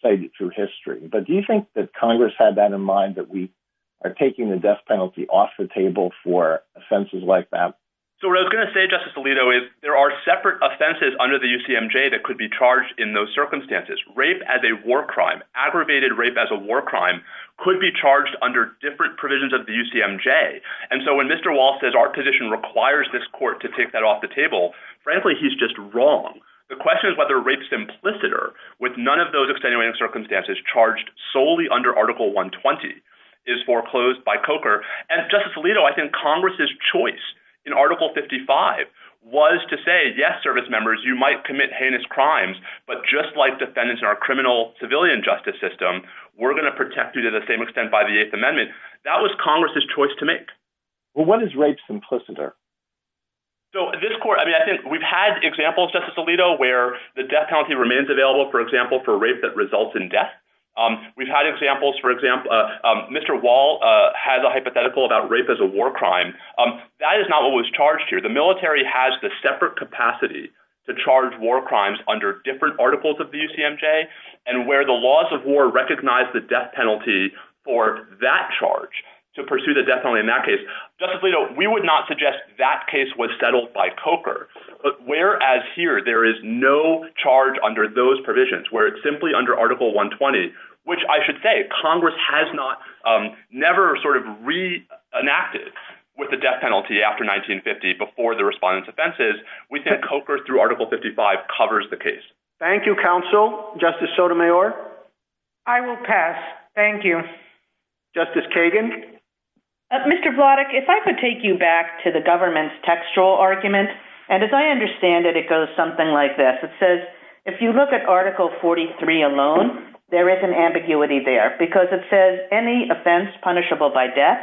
cited through history. But do you think that it's important to keep in mind that we are taking the death penalty off the table for offenses like that? So what I was going to say, Justice Alito, is there are separate offenses under the UCMJ that could be charged in those circumstances. Rape as a war crime, aggravated rape as a war crime, could be charged under different provisions of the UCMJ. And so when Mr. Wall says our position requires this court to take that off the table, frankly, he's just wrong. The question is whether rape simplicitor, with none of those extenuating circumstances, charged solely under Article 120, is foreclosed by COCR. And Justice Alito, I think Congress's choice in Article 55 was to say, yes, service members, you might commit heinous crimes, but just like defendants in our criminal civilian justice system, we're going to protect you to the same extent by the Eighth Amendment. That was Congress's choice to make. Well, what is rape simplicitor? So this court... I mean, I think we've had examples, Justice Alito, where the death penalty remains available, for example, for rape that results in death. We've had examples, for example, Mr. Wall has a hypothetical about rape as a war crime. That is not what was charged here. The military has the separate capacity to charge war crimes under different articles of the UCMJ. And where the laws of war recognize the death penalty for that charge, to pursue the death penalty in that case, Justice Alito, we would not suggest that case was settled by COCR. But whereas here, there is no charge under those provisions, where it's simply under Article 120, which I should say Congress has not... never sort of re-enacted with the death penalty after 1950 before the respondent's offenses, we think COCR through Article 55 covers the case. Thank you, counsel. Justice Sotomayor? I will pass. Thank you. Justice Kagan? Mr. Vladeck, if I could take you back to the government's textual argument, and as I understand it, it goes something like this. It says, if you look at Article 43 alone, there is an ambiguity there, because it says, any offense punishable by death,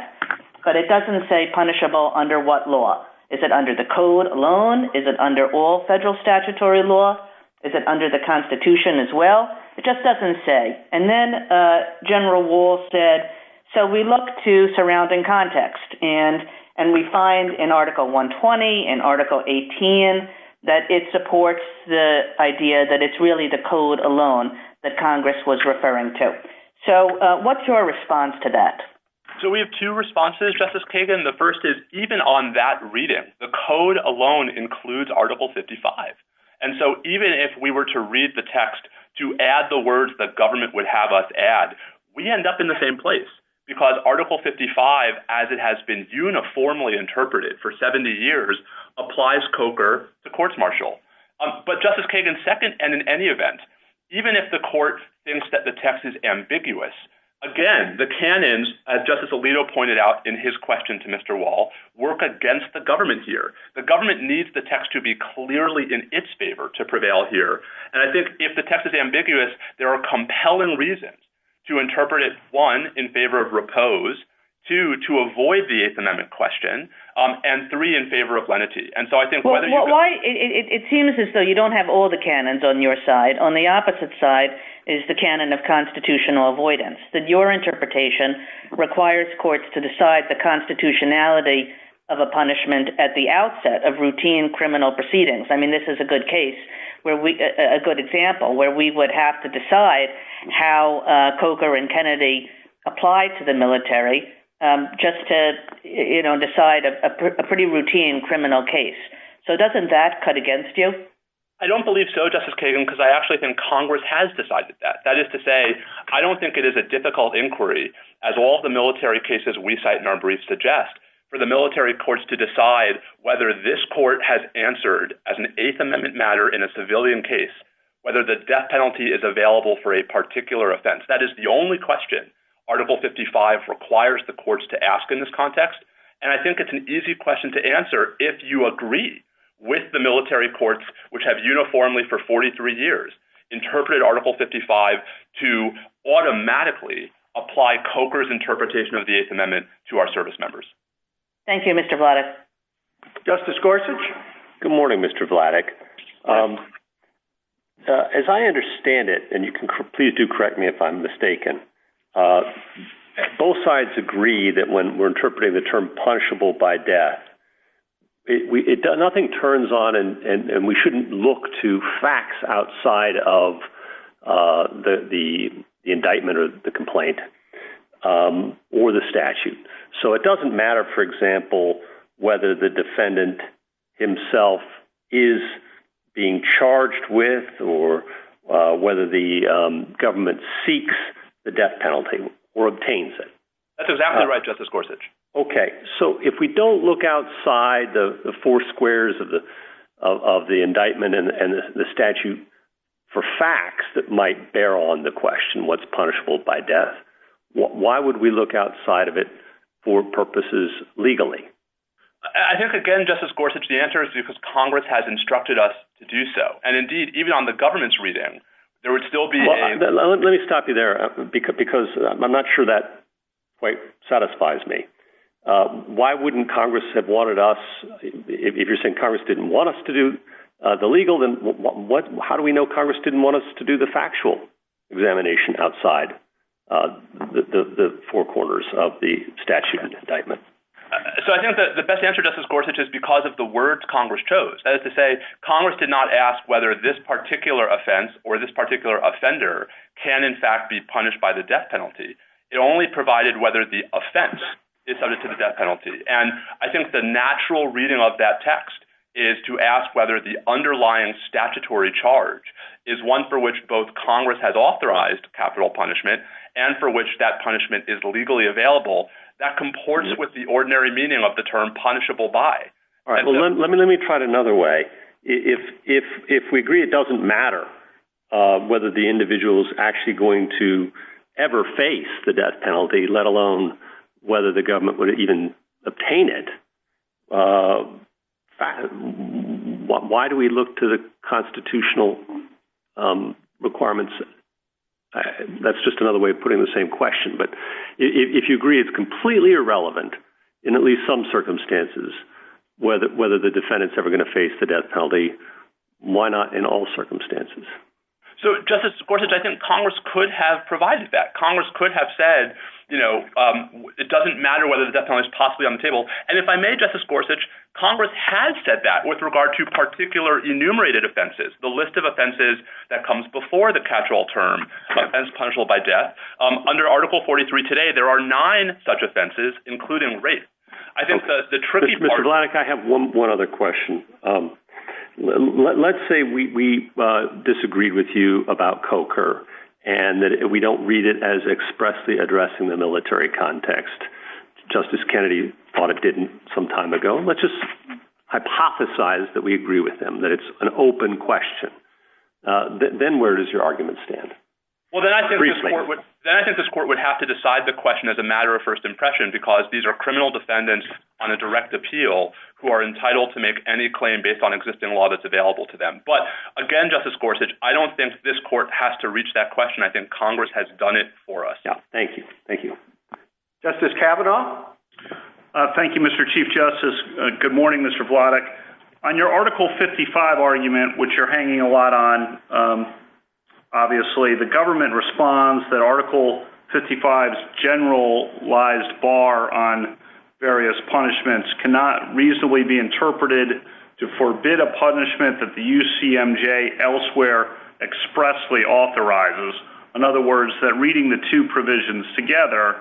but it doesn't say punishable under what law. Is it under the code alone? Is it under all federal statutory law? Is it under the Constitution as well? It just doesn't say. And then General Wohl said, so we look to surrounding context, and we find in Article 120, in Article 18, that it supports the idea that it's really the code alone that Congress was referring to. So what's your response to that? So we have two responses, Justice Kagan. The first is, even on that reading, the code alone includes Article 55. And so even if we were to read the text to add the words that government would have us add, we end up in the same place, because Article 55, as it has been uniformly interpreted for 70 years, applies coker to courts martial. But Justice Kagan, second, and in any event, even if the court thinks that the text is ambiguous, again, the canons, as Justice Alito pointed out in his question to Mr. Wohl, work against the government here. The government needs the text to be clearly in its favor to prevail here. And I think if the text is ambiguous, there are compelling reasons to interpret it, one, in favor of repose, two, to avoid the Eighth Amendment question, and three, in favor of lenity. And so I think whether you could— Well, why—it seems as though you don't have all the canons on your side. On the opposite side is the canon of constitutional avoidance, that your interpretation requires courts to decide the constitutionality of a punishment at the outset of routine criminal proceedings. I mean, this is a good case where we—a good example where we would have to decide how Coker and Kennedy applied to the military just to, you know, decide a pretty routine criminal case. So doesn't that cut against you? I don't believe so, Justice Kagan, because I actually think Congress has decided that. That is to say, I don't think it is a difficult inquiry, as all the military cases we cite in our briefs suggest, for the military courts to decide whether this court has answered, as an Eighth Amendment matter in a civilian case, whether the death penalty is available for a particular offense. That is the only question Article 55 requires the courts to ask in this context, and I think it's an easy question to answer if you agree with the military courts, which have uniformly for 43 years interpreted Article 55 to automatically apply Coker's interpretation of the Eighth Amendment to our service members. Thank you, Mr. Vladeck. Justice Gorsuch? Good morning, Mr. Vladeck. As I understand it, and you can please do correct me if I'm mistaken, both sides agree that when we're interpreting the term punishable by death, nothing turns on and we shouldn't look to facts outside of the indictment or the complaint or the statute. So it doesn't matter, for example, whether the defendant himself is being charged with or whether the government seeks the death penalty or obtains it. That's exactly right, Justice Gorsuch. Okay, so if we don't look outside the four squares of the indictment and the statute for facts that might bear on the question what's punishable by death, why would we look outside of it for purposes legally? I think, again, Justice Gorsuch, the answer is because Congress has instructed us to do so, and indeed, even on the government's reading, there would still be a... Why wouldn't Congress have wanted us... If you're saying Congress didn't want us to do the legal, then how do we know Congress didn't want us to do the factual examination outside the four corners of the statute indictment? So I think the best answer, Justice Gorsuch, is because of the words Congress chose. That is to say, Congress did not ask whether this particular offense or this particular offender can, in fact, be punished by the death penalty. It only provided whether the offense is subject to the death penalty. And I think the natural reading of that text is to ask whether the underlying statutory charge is one for which both Congress has authorized capital punishment and for which that punishment is legally available. That comports with the ordinary meaning of the term punishable by. All right, well, let me try it another way. If we agree it doesn't matter whether the individual is actually going to ever face the death penalty, let alone whether the government would even obtain it, why do we look to the constitutional requirements? That's just another way of putting the same question. But if you agree it's completely irrelevant, in at least some circumstances, whether the defendant's ever going to face the death penalty, why not in all circumstances? So, Justice Gorsuch, I think Congress could have provided that. Congress could have said, you know, it doesn't matter whether the death penalty is possibly on the table. And if I may, Justice Gorsuch, Congress has said that with regard to particular enumerated offenses, the list of offenses that comes before the catch-all term, offense punishable by death. Under Article 43 today, there are nine such offenses, including rape. Mr. Vladeck, I have one other question. Let's say we disagreed with you about COCR and that we don't read it as expressly addressing the military context. Justice Kennedy thought it didn't some time ago. Let's just hypothesize that we agree with him, that it's an open question. Then where does your argument stand? Well, then I think this court would have to decide the question as a matter of first impression because these are criminal defendants on a direct appeal who are entitled to make any claim based on existing law that's available to them. But again, Justice Gorsuch, I don't think this court has to reach that question. I think Congress has done it for us. Thank you. Thank you. Justice Kavanaugh. Thank you, Mr. Chief Justice. Good morning, Mr. Vladeck. On your Article 55 argument, which you're hanging a lot on, obviously, the government responds that Article 55's generalized bar on various punishments cannot reasonably be interpreted to forbid a punishment that the UCMJ elsewhere expressly authorizes. In other words, that reading the two provisions together,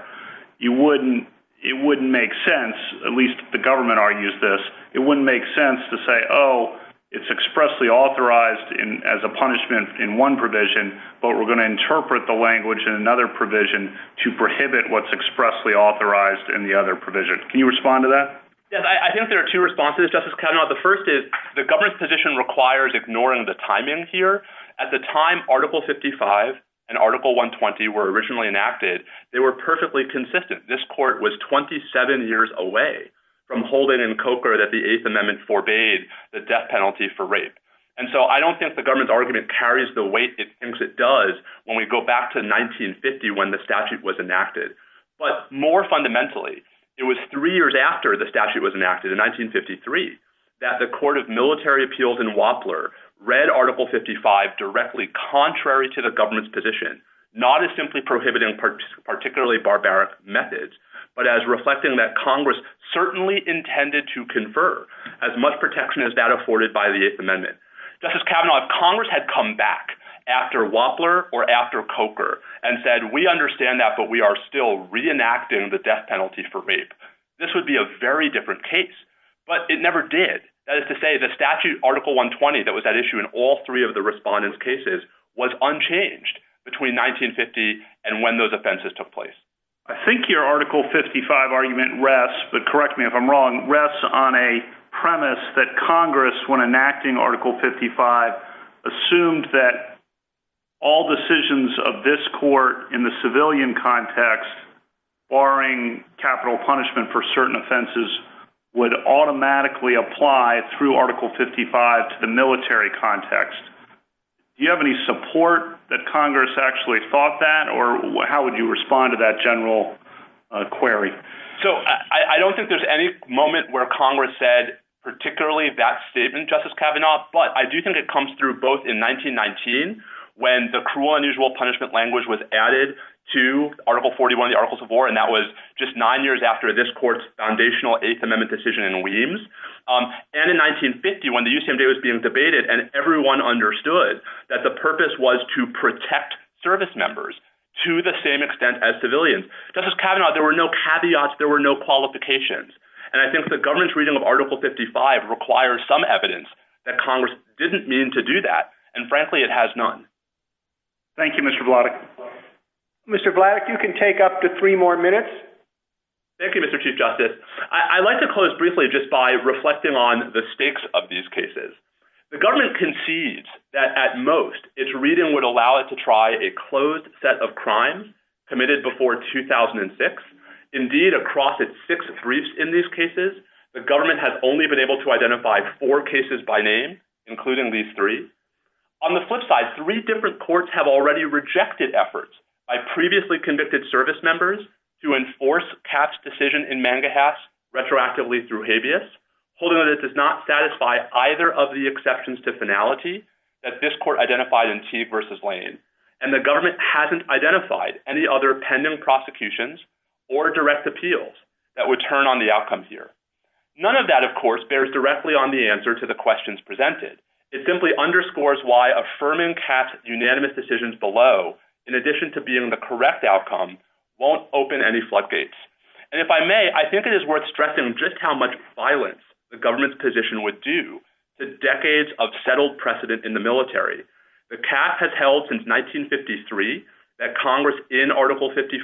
it wouldn't make sense, at least the government argues this, it wouldn't make sense to say, oh, it's expressly authorized as a punishment in one provision, but we're going to interpret the language in another provision to prohibit what's expressly authorized in the other provision. Can you respond to that? Yes, I think there are two responses, Justice Kavanaugh. The first is the government's position requires ignoring the timing here. At the time Article 55 and Article 120 were originally enacted, they were perfectly consistent. This court was 27 years away from holding in Coker that the Eighth Amendment forbade the death penalty for rape. And so I don't think the government's argument carries the weight it thinks it does when we go back to 1950 when the statute was enacted. But more fundamentally, it was three years after the statute was enacted in 1953 that the Court of Military Appeals in Wapler read Article 55 directly contrary to the government's position, not as simply prohibiting particularly barbaric methods, but as reflecting that Congress certainly intended to confer as much protection as that afforded by the Eighth Amendment. Justice Kavanaugh, if Congress had come back after Wapler or after Coker and said, we understand that, but we are still reenacting the death penalty for rape, this would be a very different case. But it never did. That is to say, the statute Article 120 that was at issue in all three of the respondents' cases was unchanged between 1950 and when those offenses took place. I think your Article 55 argument rests, but correct me if I'm wrong, rests on a premise that Congress, when enacting Article 55, assumed that all decisions of this court in the civilian context, barring capital punishment for certain offenses, would automatically apply through Article 55 to the military context. Do you have any support that Congress actually thought that, or how would you respond to that general query? I don't think there's any moment where Congress said particularly that statement, Justice Kavanaugh, but I do think it comes through both in 1919, when the cruel, unusual punishment language was added to Article 41 of the Articles of War, and that was just nine years after this court's foundational Eighth Amendment decision in Weems, and in 1950, when the USMJ was being debated, and everyone understood that the purpose was to protect service members to the same extent as civilians. Justice Kavanaugh, there were no caveats, there were no qualifications, and I think the government's reading of Article 55 requires some evidence that Congress didn't mean to do that, and frankly, it has none. Thank you, Mr. Vladeck. Mr. Vladeck, you can take up to three more minutes. Thank you, Mr. Chief Justice. I'd like to close briefly just by reflecting on the stakes of these cases. The government concedes that at most, its reading would allow it to try a closed set of crimes committed before 2006. Indeed, across its six briefs in these cases, the government has only been able to identify four cases by name, including these three. On the flip side, three different courts have already rejected efforts by previously convicted service members to enforce Capp's decision in Mangahass retroactively through habeas, holding that it does not satisfy either of the exceptions to finality that this court identified in Teague v. Lane, and the government hasn't identified any other pending prosecutions or direct appeals that would turn on the outcome here. None of that, of course, bears directly on the answer to the questions presented. It simply underscores why affirming Capp's unanimous decisions below, in addition to being the correct outcome, won't open any floodgates. And if I may, I think it is worth stressing just how much violence the government's position would do to decades of settled precedent in the military. The Capp has held since 1953 that Congress, in Article 55,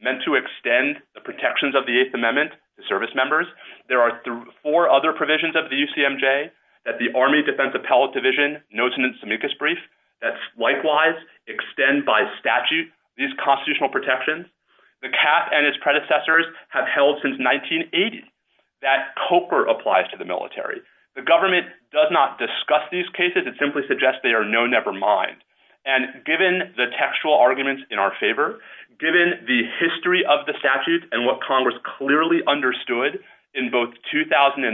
meant to extend the protections of the Eighth Amendment to service members. There are four other provisions of the UCMJ that the Army Defense Appellate Division notes in its amicus brief that likewise extend by statute these constitutional protections. The Capp and its predecessors have held since 1980 that COPER applies to the military. The government does not discuss these cases. It simply suggests they are no-never mind. And given the textual arguments in our favor, given the history of the statute and what Congress clearly understood in both 2003,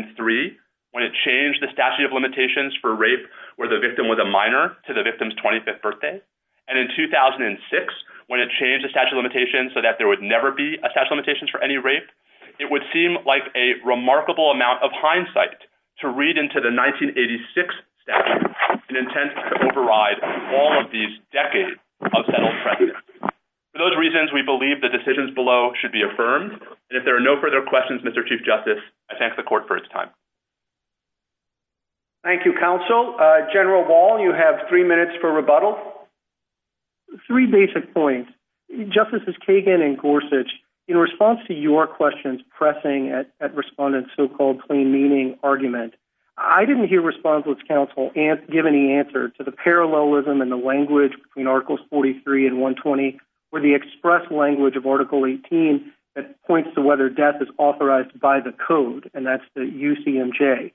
when it changed the statute of limitations for rape where the victim was a minor to the victim's 25th birthday, and in 2006, when it changed the statute of limitations so that there would never be a statute of limitations for any rape, it would seem like a remarkable amount of hindsight to read into the 1986 statute in intent to override all of these decades of settled precedent. For those reasons, we believe the decisions below should be affirmed. And if there are no further questions, Mr. Chief Justice, I thank the Court for its time. Thank you, Counsel. General Wall, you have three minutes for rebuttal. Three basic points. Justices Kagan and Gorsuch, in response to your questions pressing at Respondent's so-called plain meaning argument, I didn't hear Respondent's counsel give any answer to the parallelism in the language between Articles 43 and 120 or the express language of Article 18 that points to whether death is authorized by the code, and that's the UCMJ.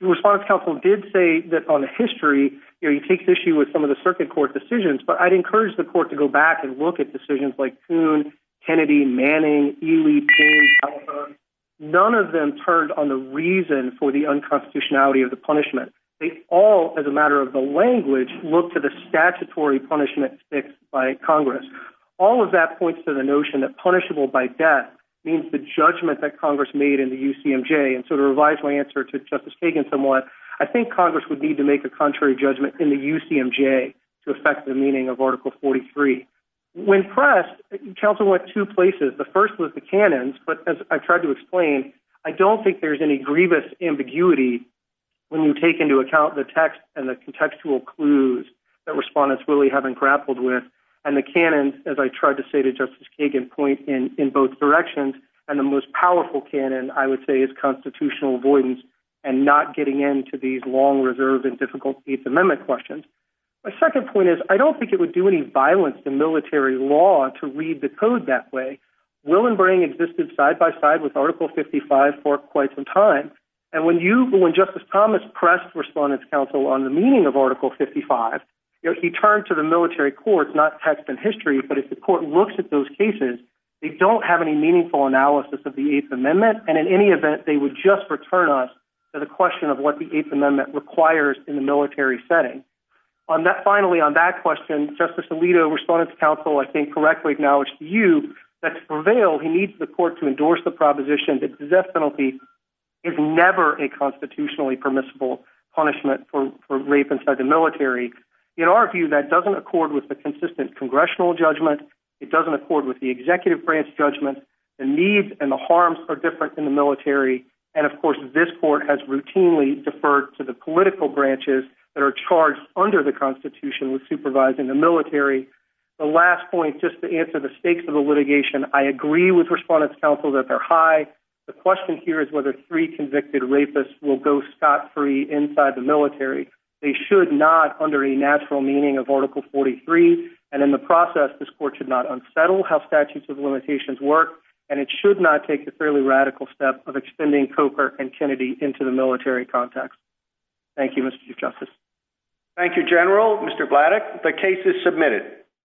Respondent's counsel did say that on the history, he takes issue with some of the circuit court decisions, but I'd encourage the Court to go back and look at decisions like Coon, Kennedy, Manning, Ely, Payne, Califone. None of them turned on the reason for the unconstitutionality of the punishment. They all, as a matter of the language, look to the statutory punishment fixed by Congress. All of that points to the notion that punishable by death means the judgment that Congress made in the UCMJ, and so to revise my answer to Justice Kagan somewhat, I think Congress would need to make a contrary judgment in the UCMJ to affect the meaning of Article 43. When pressed, counsel went two places. The first was the canons, but as I tried to explain, I don't think there's any grievous ambiguity when you take into account the text and the contextual clues that Respondent's really haven't grappled with, and the canons, as I tried to say to Justice Kagan, point in both directions, and the most powerful canon, I would say, is constitutional avoidance and not getting into these long, reserved, and difficult Eighth Amendment questions. My second point is I don't think it would do any violence to military law to read the code that way. Will and Brang existed side by side with Article 55 for quite some time, and when Justice Thomas pressed Respondent's counsel on the meaning of Article 55, he turned to the military courts, not text and history, but if the Court looks at those cases, they don't have any meaningful analysis of the Eighth Amendment, and in any event, they would just return us to the question of what the Eighth Amendment requires in the military setting. Finally, on that question, Justice Alito, Respondent's counsel, I think correctly acknowledged to you that to prevail, he needs the Court to endorse the proposition that death penalty is never a constitutionally permissible punishment for rape inside the military. In our view, that doesn't accord with the consistent congressional judgment. It doesn't accord with the executive branch judgment. The needs and the harms are different in the military, and of course, this Court has routinely deferred to the political branches that are charged under the Constitution with supervising the military. The last point, just to answer the stakes of the litigation, I agree with Respondent's counsel that they're high. The question here is whether three convicted rapists will go scot-free inside the military. They should not under a natural meaning of Article 43, and in the process, this Court should not unsettle how statutes of limitations work, and it should not take the fairly radical step of extending Cooper and Kennedy into the military context. Thank you, Mr. Chief Justice. Thank you, General. Mr. Blattock, the case is submitted.